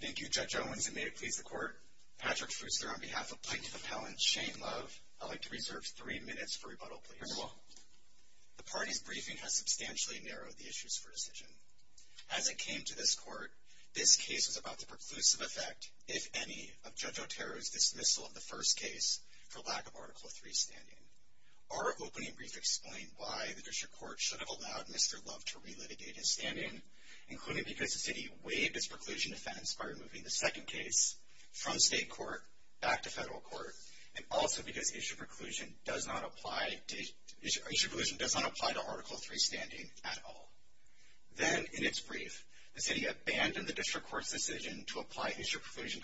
Thank you Judge Owens, and may it please the Court, Patrick Fuster on behalf of Plaintiff Appellant Shane Love, I'd like to reserve three minutes for rebuttal please. Very well. The party's briefing has substantially narrowed the issues for decision. As it came to this Court, this case was about the preclusive effect, if any, of Judge Otero's dismissal of the first case for lack of Article III standing. Our opening brief explained why the District Court should have allowed Mr. Love to re-litigate his standing, including because the City waived its preclusion defense by removing the second case from State Court back to Federal Court, and also because issue preclusion does not apply to Article III standing at all. Then in its brief, the City abandoned the District Court's decision to apply issue preclusion,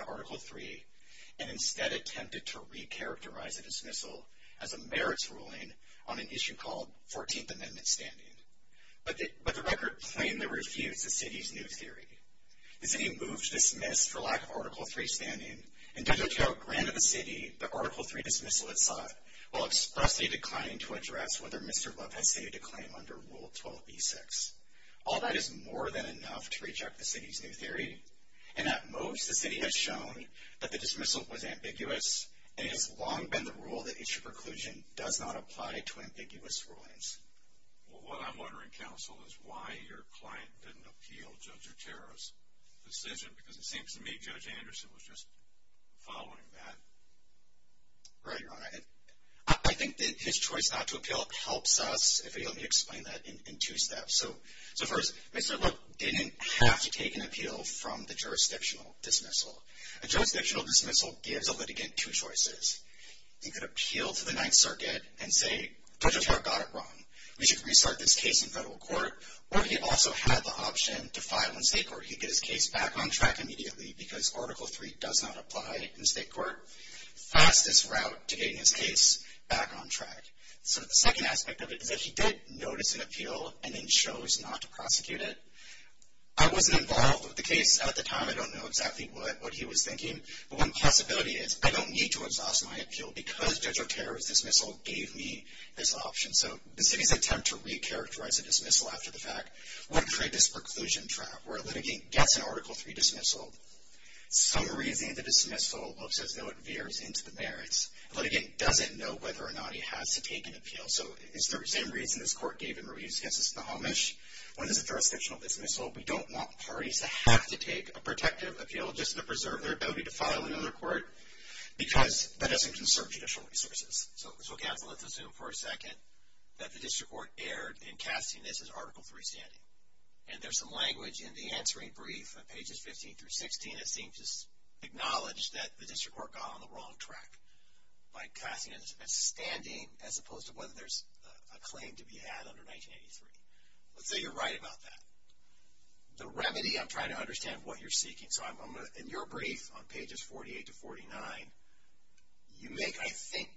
and attempted to re-characterize the dismissal as a merits ruling on an issue called 14th Amendment standing, but the record plainly refused the City's new theory. The City moved to dismiss for lack of Article III standing, and Judge Otero granted the City the Article III dismissal it sought, while expressly declining to address whether Mr. Love had stated a claim under Rule 12b-6. All that is more than enough to reject the City's new theory, and at most the City has shown that the dismissal was ambiguous, and it has long been the rule that issue preclusion does not apply to ambiguous rulings. Well, what I'm wondering, counsel, is why your client didn't appeal Judge Otero's decision, because it seems to me Judge Anderson was just following that. Right, Your Honor. I think that his choice not to appeal helps us, if you'll let me explain that, in two steps. So first, Mr. Love didn't have to take an appeal from the jurisdictional dismissal. A jurisdictional dismissal gives a litigant two choices. He could appeal to the Ninth Circuit and say, Judge Otero got it wrong. We should restart this case in federal court, or he also had the option to file in state court. He'd get his case back on track immediately, because Article III does not apply in state court. Fastest route to getting his case back on track. So the second aspect of it is that he did notice an appeal, and then chose not to prosecute it. I wasn't involved with the case at the time. I don't know exactly what he was thinking, but one possibility is, I don't need to exhaust my appeal, because Judge Otero's dismissal gave me this option. So the city's attempt to recharacterize a dismissal after the fact would create this preclusion trap, where a litigant gets an Article III dismissal. Some reason the dismissal looks as though it veers into the merits. The litigant doesn't know whether or not he has to take an appeal. So is there the same reason this court gave him a re-use against the Amish? What is the jurisdiction of this dismissal? We don't want parties to have to take a protective appeal just to preserve their ability to file in other court, because that doesn't conserve judicial resources. So counsel, let's assume for a second that the district court erred in casting this as Article III standing. And there's some language in the answering brief on pages 15 through 16 that seems to acknowledge that the district court got on the wrong track by casting it as standing as opposed to whether there's a claim to be had under 1983. Let's say you're right about that. The remedy, I'm trying to understand what you're seeking. So in your brief on pages 48 to 49, you make, I think,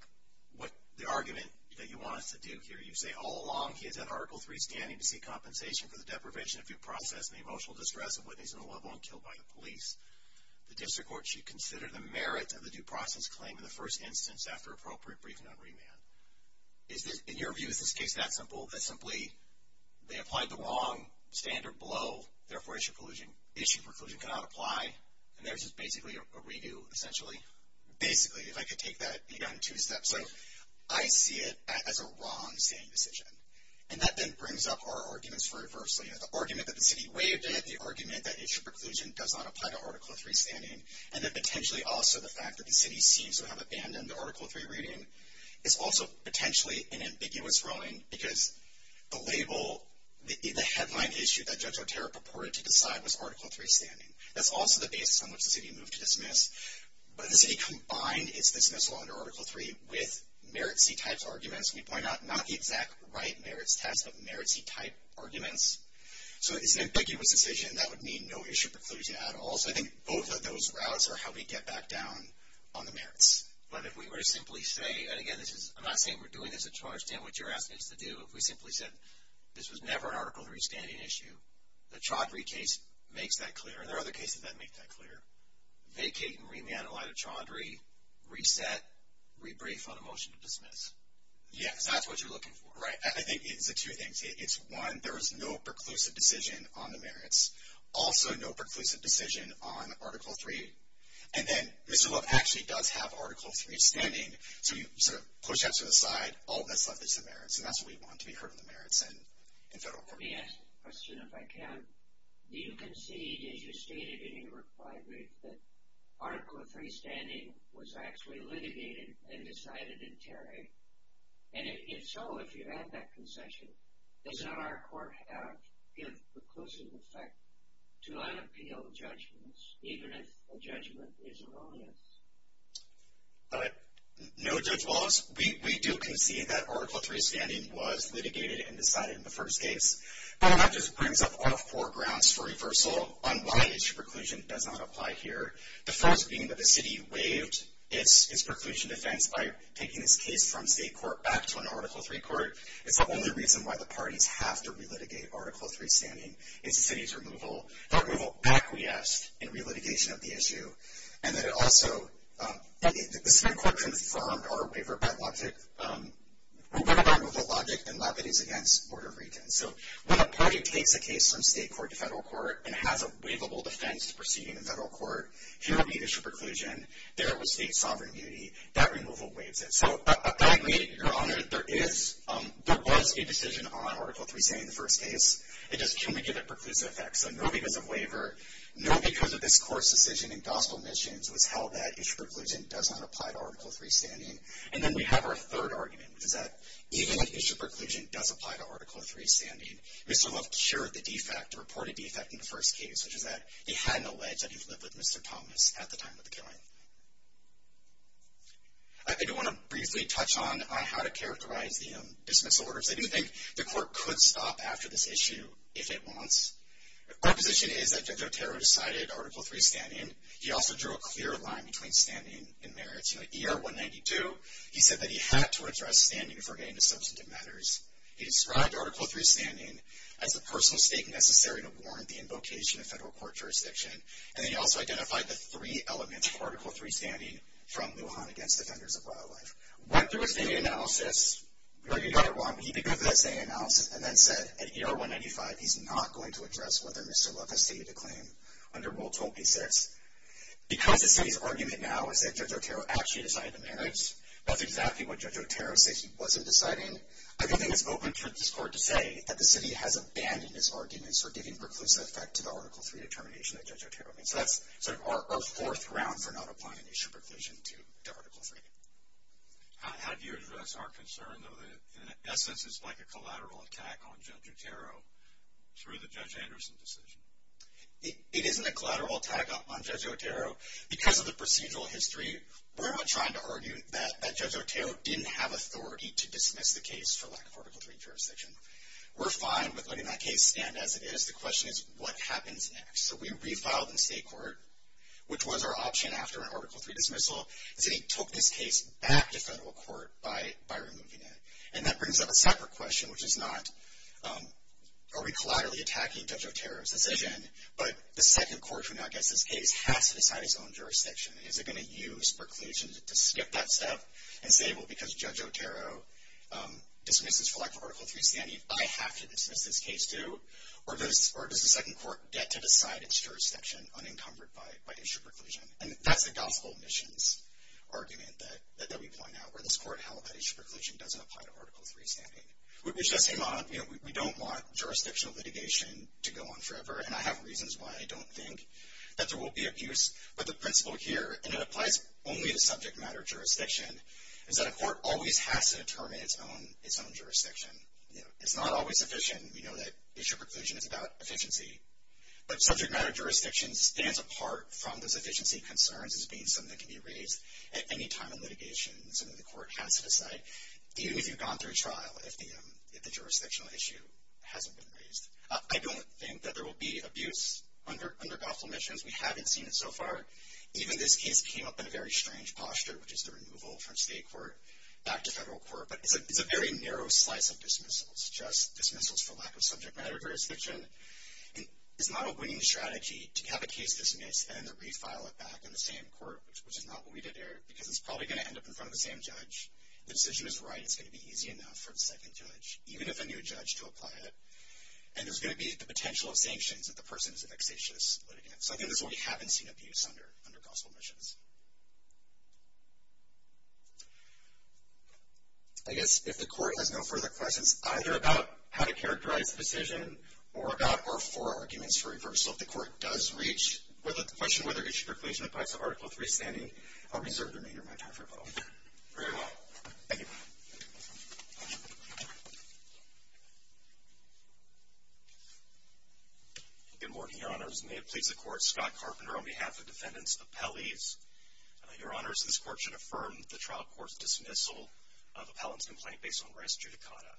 what the argument that you want us to do here. You say, all along he has had Article III standing to seek compensation for the deprivation of due process and the emotional distress of witnesses and the loved one killed by the police. The district court should consider the merit of the due process claim in the first instance after appropriate briefing on remand. Is this, in your view, is this case that simple, that simply they applied the wrong standard below, therefore issue preclusion cannot apply, and there's just basically a redo, essentially? Basically, if I could take that, you got it in two steps. So I see it as a wrong standing decision. And that then brings up our arguments for adversity. The argument that the city waived it, the argument that issue preclusion does not apply to Article III standing, and then potentially also the fact that the city seems to have abandoned the Article III reading, is also potentially an ambiguous rowing, because the label, the headline issue that Judge Arterra purported to decide was Article III standing. That's also the basis on which the city moved to dismiss. But the city combined its dismissal under Article III with merit c-types arguments. We point out not the exact right merits test, but merit c-type arguments. So it's an ambiguous decision, and that would mean no issue preclusion at all. So I think both of those routes are how we get back down on the merits. But if we were to simply say, and again, I'm not saying we're doing this to try to understand what you're asking us to do. If we simply said, this was never an Article III standing issue, the Chaudhry case makes that clear, and there are other cases that make that clear. Vacate and remand the line of Chaudhry, reset, rebrief on a motion to dismiss. Yes. That's what you're looking for. Right. And I think it's two things. It's one, there is no preclusive decision on the merits. Also no preclusive decision on Article III. And then, Mr. Love actually does have Article III standing, so you push that to the side. All that's left is the merits. And that's what we want, to be heard on the merits in federal court. Let me ask a question, if I can. Do you concede, as you stated in your reply brief, that Article III standing was actually litigated and decided in Terry? And if so, if you have that concession, does not our court have, give preclusive effect to unappealed judgments, even if a judgment is erroneous? No judge loves, we do concede that Article III standing was litigated and decided in the first case. But that just brings up all four grounds for reversal on why issue preclusion does not apply here. The first being that the city waived its preclusion defense by taking its case from state court back to an Article III court. It's the only reason why the parties have to relitigate Article III standing, is the city's removal. The removal back, we asked, in relitigation of the issue. And that it also, the state court confirmed our waiver by logic, waiver by removal logic, and that is against order of retention. So when a party takes a case from state court to federal court and has a waivable defense proceeding in federal court, here will be issue preclusion, there will be state sovereignty, that removal waives it. So I agree, Your Honor, there is, there was a decision on Article III standing in the first case. It just, can we give it preclusive effect? So no because of waiver, no because of this court's decision in gospel missions was held that issue preclusion does not apply to Article III standing. And then we have our third argument, which is that even if issue preclusion does apply to Article III standing, Mr. Luft shared the defect, the reported defect in the first case, which is that he had an allege that he lived with Mr. Thomas at the time of the killing. I do want to briefly touch on how to characterize the dismissal order because I do think the court could stop after this issue if it wants. Our position is that Judge Otero decided Article III standing. He also drew a clear line between standing and merits. In the ER 192, he said that he had to address standing before getting to substantive matters. He described Article III standing as the personal stake necessary to warrant the invocation of federal court jurisdiction. And then he also identified the three elements of Article III standing from Lujan against Defenders of Wildlife. Went through a standing analysis, where he got it wrong, but he did go through that standing analysis and then said, at ER 195, he's not going to address whether Mr. Luft has stated a claim under Rule 26. Because the city's argument now is that Judge Otero actually decided the merits, that's exactly what Judge Otero said he wasn't deciding. I think it's open for this court to say that the city has abandoned his arguments for giving preclusive effect to the Article III determination that Judge Otero made. So that's sort of our fourth round for not applying an issue preclusion to Article III. How do you address our concern, though, that in essence it's like a collateral attack on Judge Otero through the Judge Anderson decision? It isn't a collateral attack on Judge Otero. Because of the procedural history, we're not trying to argue that Judge Otero didn't have the case for lack of Article III jurisdiction. We're fine with letting that case stand as it is. The question is, what happens next? So we refiled in state court, which was our option after an Article III dismissal. The city took this case back to federal court by removing it. And that brings up a separate question, which is not, are we collaterally attacking Judge Otero's decision? But the second court who now gets this case has to decide its own jurisdiction. Is it going to use preclusion to skip that step and say, well, because Judge Otero dismisses for lack of Article III standing, I have to dismiss this case, too? Or does the second court get to decide its jurisdiction unencumbered by issue preclusion? And that's the gospel missions argument that we point out, where this court held that issue preclusion doesn't apply to Article III standing, which does seem odd. We don't want jurisdictional litigation to go on forever. And I have reasons why I don't think that there will be abuse. But the principle here, and it applies only to subject matter jurisdiction, is that a court always has to determine its own jurisdiction. It's not always sufficient. We know that issue preclusion is about efficiency. But subject matter jurisdiction stands apart from those efficiency concerns as being something that can be raised at any time in litigation, something the court has to decide, even if you've gone through trial, if the jurisdictional issue hasn't been raised. I don't think that there will be abuse under gospel missions. We haven't seen it so far. Even this case came up in a very strange posture, which is the removal from state court back to federal court. But it's a very narrow slice of dismissals, just dismissals for lack of subject matter jurisdiction. And it's not a winning strategy to have a case dismissed and then to refile it back in the same court, which is not what we did here. Because it's probably going to end up in front of the same judge. The decision is right. It's going to be easy enough for the second judge, even if a new judge to apply it. And there's going to be the potential of sanctions if the person is a vexatious litigant. So I think this is what we haven't seen abuse under gospel missions. I guess if the court has no further questions, either about how to characterize the decision, or about or for arguments for reversal. If the court does reach, with a question whether it should percolate to the price of Article 3 standing, I'll reserve the remainder of my time for a vote. Very well. Thank you. Good morning, your honors. May it please the court, Scott Carpenter on behalf of defendants appellees. Your honors, this court should affirm the trial court's dismissal of appellant's complaint based on res judicata.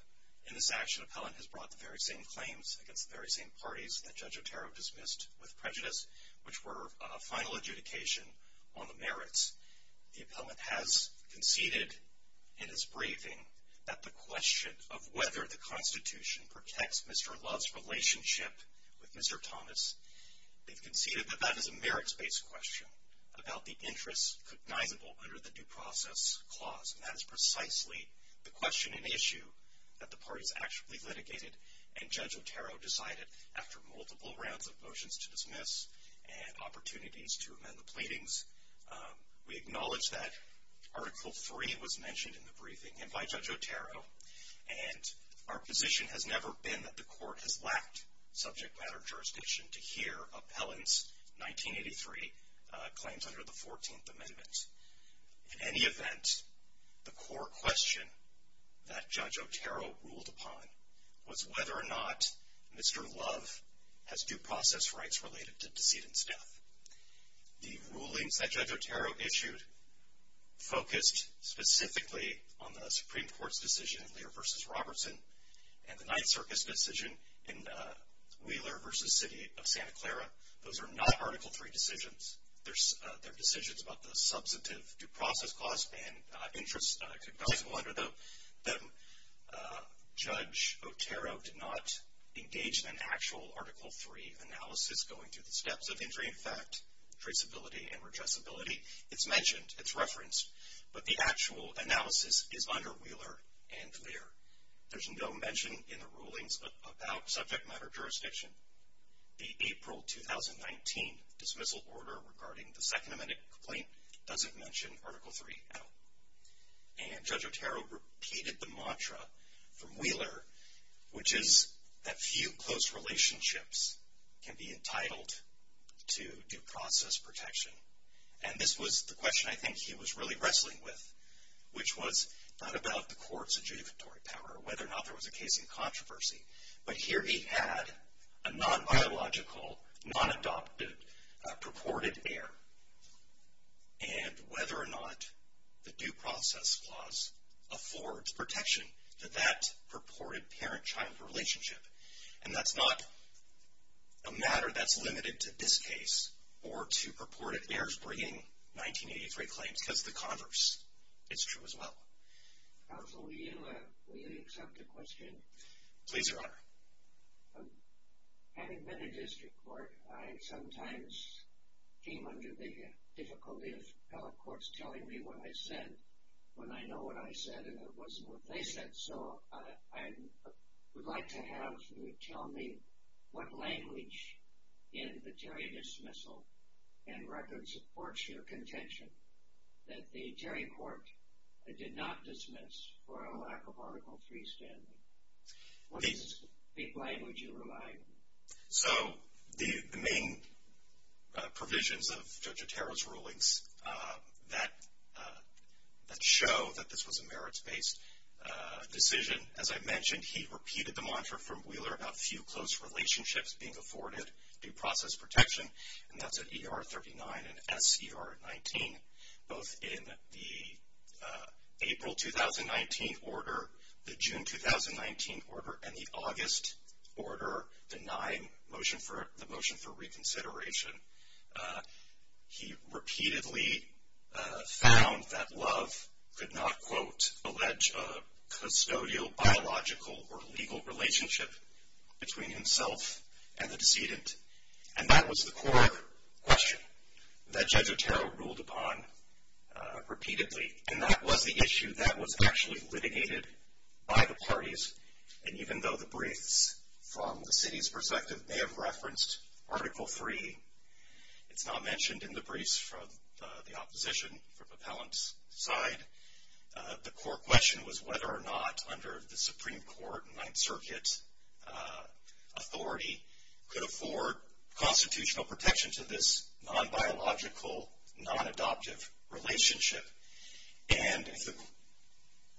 In this action, appellant has brought the very same claims against the very same parties that Judge Otero dismissed with prejudice, which were a final adjudication on the merits. The appellant has conceded in his briefing that the question of whether the Constitution protects Mr. Love's relationship with Mr. Thomas. They've conceded that that is a merits-based question, about the interests cognizable under the due process clause. And that is precisely the question and issue that the parties actually litigated. And Judge Otero decided, after multiple rounds of motions to dismiss and opportunities to amend the pleadings, we acknowledge that Article 3 was mentioned in the briefing and by Judge Otero. And our position has never been that the court has lacked subject matter jurisdiction to hear appellant's 1983 claims under the 14th Amendment. In any event, the core question that Judge Otero ruled upon was whether or not Mr. Love has due process rights related to decedent's death. The rulings that Judge Otero issued focused specifically on the Supreme Court's decision in Lear v. Robertson and the Ninth Circus decision in Wheeler v. City of Santa Clara. Those are not Article 3 decisions. They're decisions about the substantive due process clause and interests cognizable under them. Judge Otero did not engage in an actual Article 3 analysis going through the steps of injury in fact, traceability, and redressability. It's mentioned, it's referenced, but the actual analysis is under Wheeler and Lear. There's no mention in the rulings about subject matter jurisdiction. The April 2019 dismissal order regarding the Second Amendment complaint doesn't mention Article 3 at all. And Judge Otero repeated the mantra from Wheeler, which is that few close relationships can be entitled to due process protection. And this was the question I think he was really wrestling with, which was not about the court's adjudicatory power or whether or not there was a case in controversy. But here he had a non-biological, non-adopted, purported heir, and whether or not the due process clause affords protection to that purported parent-child relationship. And that's not a matter that's limited to this case or to purported heirs bringing 1983 claims, cuz the converse is true as well. Counsel, will you accept a question? Please, Your Honor. Having been in district court, I sometimes came under the difficulty of appellate courts telling me what I said when I know what I said, and it wasn't what they said, so I would like to have you tell me what language in the Terry dismissal and record supports your contention that the Terry court did not dismiss for a lack of Article 3 standing. What is the language you relied? So, the main provisions of Judge Otero's rulings that show that this was a merits-based decision. As I mentioned, he repeated the mantra from Wheeler about few close relationships being afforded due process protection, and that's at ER 39 and SCR 19. Both in the April 2019 order, the June 2019 order, and the August order denying the motion for reconsideration. He repeatedly found that Love could not, quote, allege a custodial, biological, or legal relationship between himself and the decedent. And that was the core question that Judge Otero ruled upon repeatedly, and that was the issue that was actually litigated by the parties. And even though the briefs from the city's perspective may have referenced Article 3, it's not mentioned in the briefs from the opposition, from appellant's side. The core question was whether or not, under the Supreme Court and constitutional protection to this non-biological, non-adoptive relationship. And- The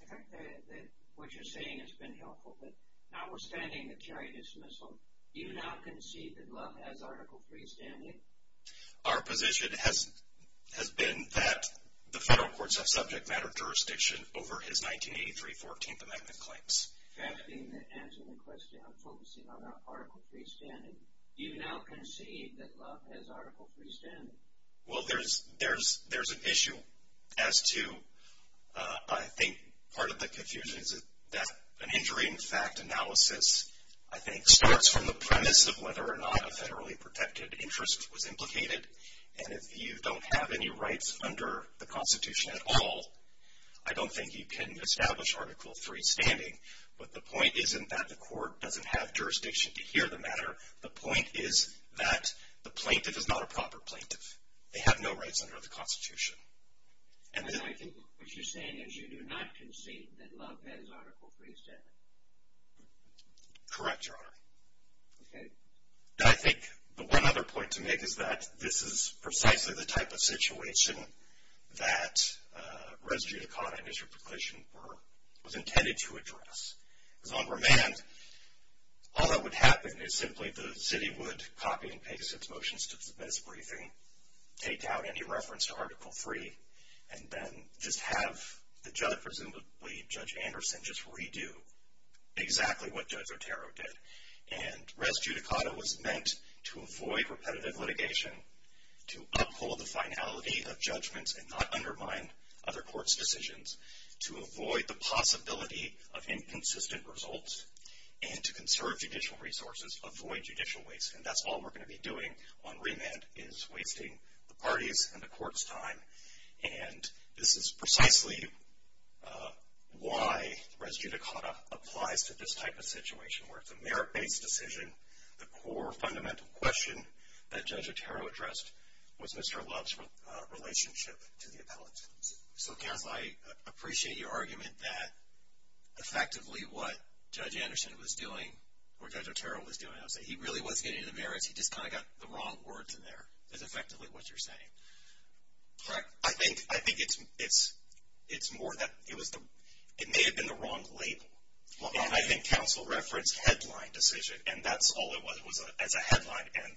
fact that what you're saying has been helpful, but notwithstanding the carry dismissal, do you now concede that Love has Article 3 standing? Our position has been that the federal courts have subject matter jurisdiction over his 1983 14th Amendment claims. That being the answer to the question, I'm focusing on that Article 3 standing. Do you now concede that Love has Article 3 standing? Well, there's an issue as to, I think, part of the confusion is that an injury in fact analysis, I think, starts from the premise of whether or not a federally protected interest was implicated. And if you don't have any rights under the Constitution at all, I don't think you can establish Article 3 standing. But the point isn't that the court doesn't have jurisdiction to hear the matter. The point is that the plaintiff is not a proper plaintiff. They have no rights under the Constitution. And then- I think what you're saying is you do not concede that Love has Article 3 standing. Correct, Your Honor. Okay. I think the one other point to make is that this is precisely the type of situation that res judicata and district proclation were, was intended to address. Because on remand, all that would happen is simply the city would copy and paste its motions to this briefing, take out any reference to Article 3, and then just have the judge, presumably Judge Anderson, just redo exactly what Judge Otero did. And res judicata was meant to avoid repetitive litigation, to uphold the finality of judgments and not undermine other court's decisions. To avoid the possibility of inconsistent results and to conserve judicial resources, avoid judicial waste. And that's all we're going to be doing on remand is wasting the party's and the court's time. And this is precisely why res judicata applies to this type of situation, where it's a merit based decision. The core fundamental question that Judge Otero addressed was Mr. Love's relationship to the appellant. So, counsel, I appreciate your argument that effectively what Judge Anderson was doing, or Judge Otero was doing, I would say he really wasn't getting into the merits. He just kind of got the wrong words in there, is effectively what you're saying. Correct. I think it's more that it may have been the wrong label. And I think counsel referenced headline decision, and that's all it was. It was as a headline, and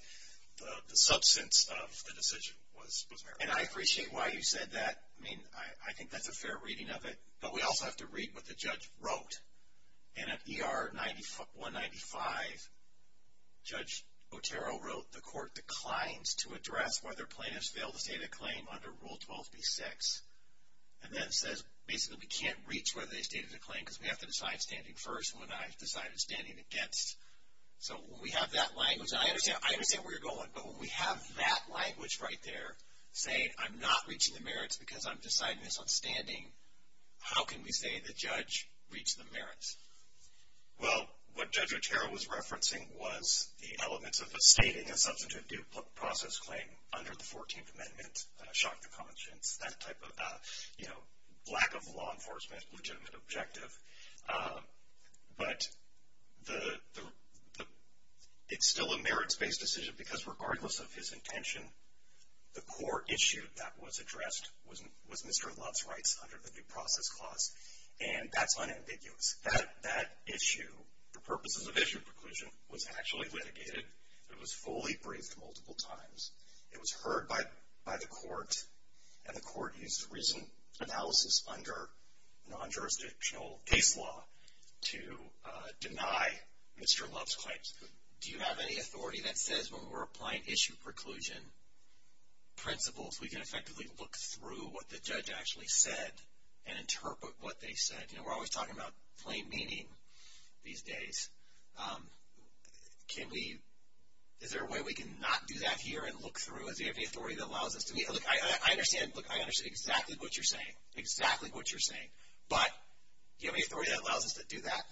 the substance of the decision was merit. And I appreciate why you said that. I mean, I think that's a fair reading of it. But we also have to read what the judge wrote. And at ER 195, Judge Otero wrote, the court declines to address whether plaintiffs fail to state a claim under Rule 12b-6, and then says basically we can't reach whether they stated a claim because we have to decide standing first, and when I decided standing against. So when we have that language, and I understand where you're going, but when we have that language right there, saying I'm not reaching the merits because I'm deciding this on standing, how can we say the judge reached the merits? Well, what Judge Otero was referencing was the elements of stating a substantive due process claim under the 14th Amendment, shock to conscience, that type of, you know, lack of law enforcement, legitimate objective. But it's still a merits-based decision, because regardless of his intention, the core issue that was addressed was Mr. Love's rights under the Due Process Clause, and that's unambiguous. That issue, the purposes of issue preclusion, was actually litigated. It was fully briefed multiple times. It was heard by the court, and the court used recent analysis under non-jurisdictional case law to deny Mr. Love's claims. Do you have any authority that says when we're applying issue preclusion principles, we can effectively look through what the judge actually said, and interpret what they said? You know, we're always talking about plain meaning these days. Can we, is there a way we can not do that here and look through? Do you have any authority that allows us to be, look, I understand, look, I understand exactly what you're saying, exactly what you're saying. But, do you have any authority that allows us to do that?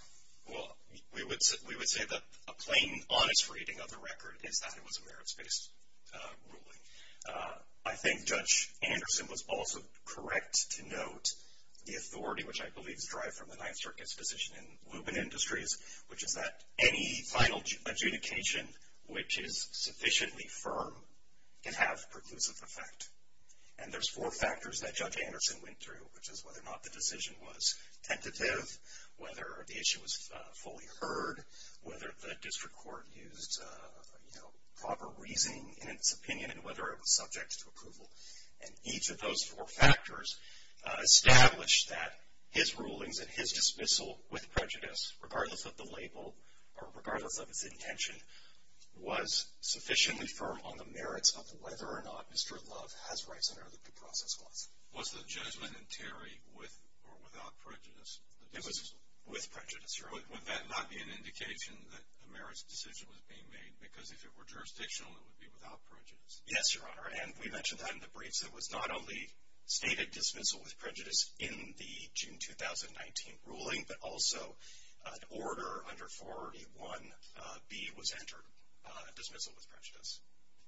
Well, we would say that a plain, honest reading of the record is that it was a merits-based ruling. I think Judge Anderson was also correct to note the authority, which I believe is derived from the Ninth Circuit's decision in Lubin Industries, which is that any final adjudication which is sufficiently firm can have preclusive effect. And there's four factors that Judge Anderson went through, which is whether or not the decision was tentative, whether the issue was fully heard, whether the district court used, you know, proper reasoning in its opinion, and whether it was subject to approval. And each of those four factors established that his rulings and his dismissal with prejudice, regardless of the label, or regardless of its intention, was sufficiently firm on the merits of whether or not Mr. Love has rights under the due process clause. Was the judgment in Terry with or without prejudice? It was with prejudice, Your Honor. Would that not be an indication that a merits decision was being made? Because if it were jurisdictional, it would be without prejudice. Yes, Your Honor. And we mentioned that in the briefs. It was not only stated dismissal with prejudice in the June 2019 ruling, but also an order under 41B was entered, dismissal with prejudice.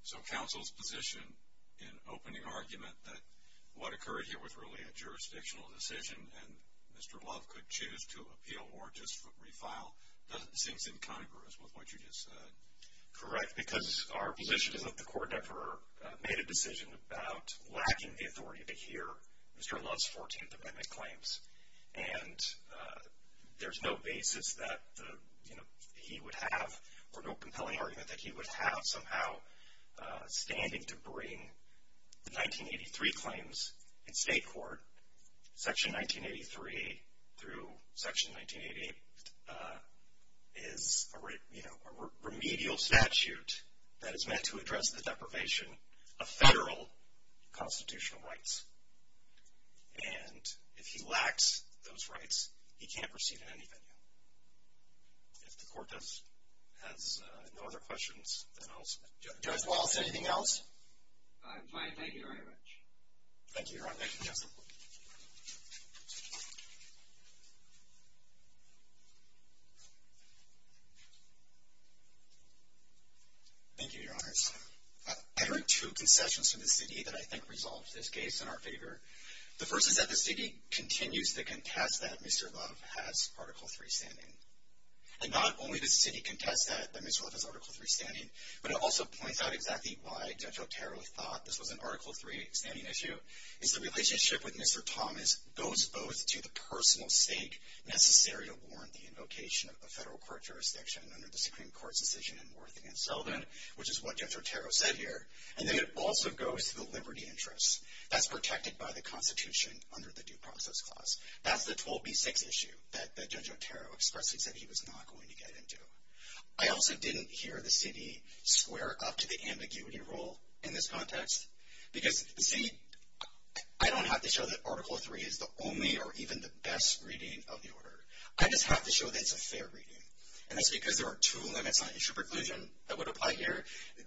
So counsel's position in opening argument that what occurred here was really a jurisdictional decision and Mr. Love could choose to appeal or just refile seems incongruous with what you just said. Correct. Because our position is that the court never made a decision about lacking the authority to hear Mr. Love's 14th Amendment claims. And there's no basis that, you know, he would have, or no compelling argument that he would have somehow standing to bring the 1983 claims in state court. Section 1983 through Section 1988 is, you know, a remedial statute that is meant to address the deprivation of federal constitutional rights. And if he lacks those rights, he can't proceed in any venue. If the court has no other questions, then I'll stop. Judge Walz, anything else? I'm fine. Thank you very much. Thank you, Your Honor. Thank you, Judge. Thank you, Your Honors. I heard two concessions from the city that I think resolved this case in our favor. The first is that the city continues to contest that Mr. Love has Article III standing. And not only does the city contest that Mr. Love has Article III standing, but it also points out exactly why Judge Otero thought this was an Article III standing issue, is the relationship with Mr. Thomas goes both to the personal sake necessary to warrant the invocation of a federal court jurisdiction under the Supreme Court's decision in Worth v. Sullivan, which is what Judge Otero said here, and then it also goes to the liberty interests. That's protected by the Constitution under the Due Process Clause. That's the 12B6 issue that Judge Otero expressly said he was not going to get into. I also didn't hear the city square up to the ambiguity rule in this context. Because the city, I don't have to show that Article III is the only or even the best reading of the order. I just have to show that it's a fair reading. And that's because there are two limits on issue preclusion that would apply here.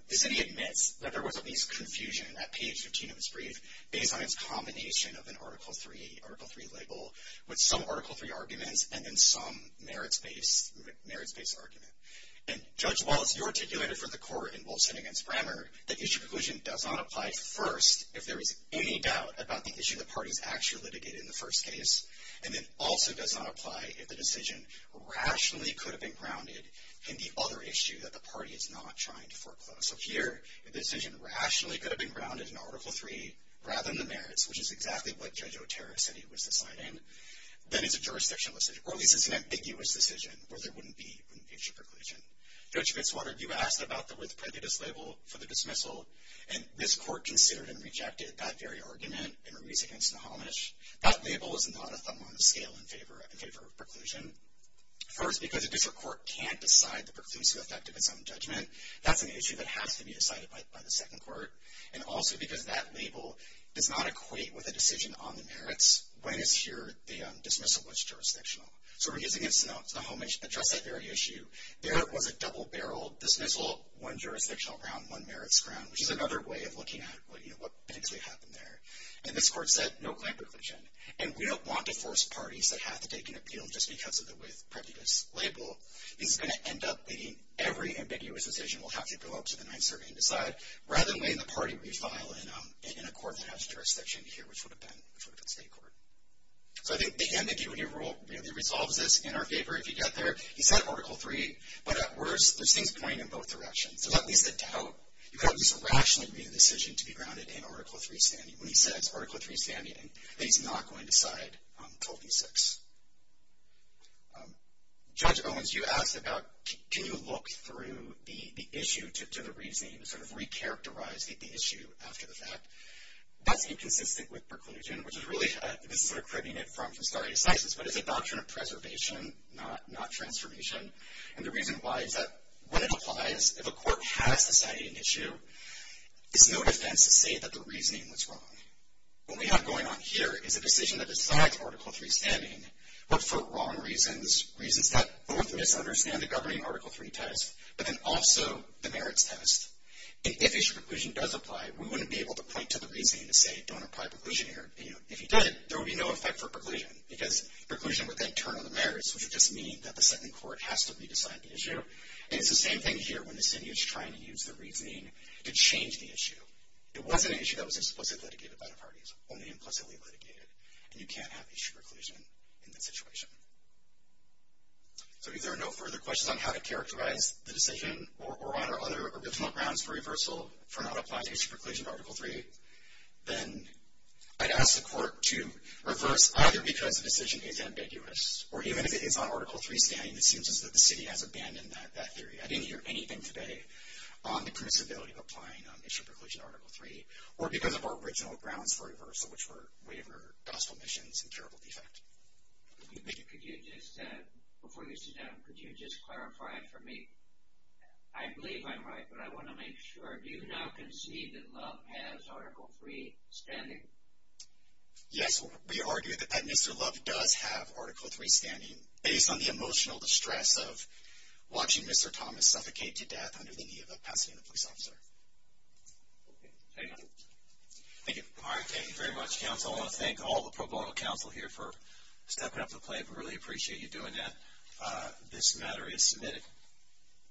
The city admits that there was at least confusion in that page 15 of its brief based on its combination of an Article III label with some Article III arguments and then some merits-based argument. And Judge Wallace, you articulated for the court in Wolfson v. Brammer that issue preclusion does not apply first if there is any doubt about the issue the parties actually litigated in the first case, and then also does not apply if the decision rationally could have been grounded in the other issue that the party is not trying to foreclose. So here, if the decision rationally could have been grounded in Article III rather than the merits, which is exactly what Judge Otero said he was deciding, then it's a jurisdictional decision, or at least it's an ambiguous decision where there wouldn't be an issue preclusion. Judge Fitzwater, you asked about the with prejudice label for the dismissal, and this court considered and rejected that very argument in a release against the homage. That label is not a thumb on the scale in favor of preclusion. First, because a district court can't decide the preclusive effect of its own judgment, that's an issue that has to be decided by the second court, and also because that label does not equate with a decision on the merits when it's here the dismissal was jurisdictional. So we're using it to address that very issue. There was a double-barreled dismissal, one jurisdictional ground, one merits ground, which is another way of looking at what, you know, what potentially happened there. And this court said, no claim preclusion, and we don't want to force parties that have to take an appeal just because of the with prejudice label. This is going to end up being every ambiguous decision will have to go up to the ninth circuit and decide, rather than letting the party refile in a court that has jurisdiction here, which would have been the state court. So I think the ambiguity rule really resolves this in our favor if you get there. He said Article 3, but at worst, there's things pointing in both directions. There's at least a doubt. You could at least rationally read a decision to be grounded in Article 3 standing that he's not going to side until v. 6. Judge Owens, you asked about, can you look through the issue to the reasoning and sort of recharacterize the issue after the fact? That's inconsistent with preclusion, which is really, this is sort of cribbing it from the story of Cises, but it's a doctrine of preservation, not transformation. And the reason why is that when it applies, if a court has decided an issue, it's no defense to say that the reasoning was wrong. What we have going on here is a decision that decides Article 3 standing, but for wrong reasons, reasons that both misunderstand the governing Article 3 test, but then also the merits test. And if issue preclusion does apply, we wouldn't be able to point to the reasoning to say don't apply preclusion here. You know, if you did, there would be no effect for preclusion, because preclusion would then turn on the merits, which would just mean that the second court has to re-decide the issue. And it's the same thing here when the city is trying to use the reasoning to change the issue. It wasn't an issue that was explicitly litigated by the parties, only implicitly litigated, and you can't have issue preclusion in that situation. So if there are no further questions on how to characterize the decision, or on other original grounds for reversal for not applying issue preclusion to Article 3, then I'd ask the court to reverse either because the decision is ambiguous, or even if it is on Article 3 standing, it seems as if the city has abandoned that theory. I didn't hear anything today on the permissibility of applying issue preclusion to Article 3, or because of our original grounds for reversal, which were waiver, gospel missions, and terrible defect. Thank you. Could you just, before you sit down, could you just clarify for me, I believe I'm right, but I want to make sure, do you now concede that Love has Article 3 standing? Yes, we argue that Mr. Love does have Article 3 standing, based on the emotional distress of watching Mr. Thomas suffocate to death under the knee of a Pasadena police officer. Okay, thank you. Thank you. All right, thank you very much, counsel. I want to thank all the pro bono counsel here for stepping up to the plate. We really appreciate you doing that. This matter is submitted.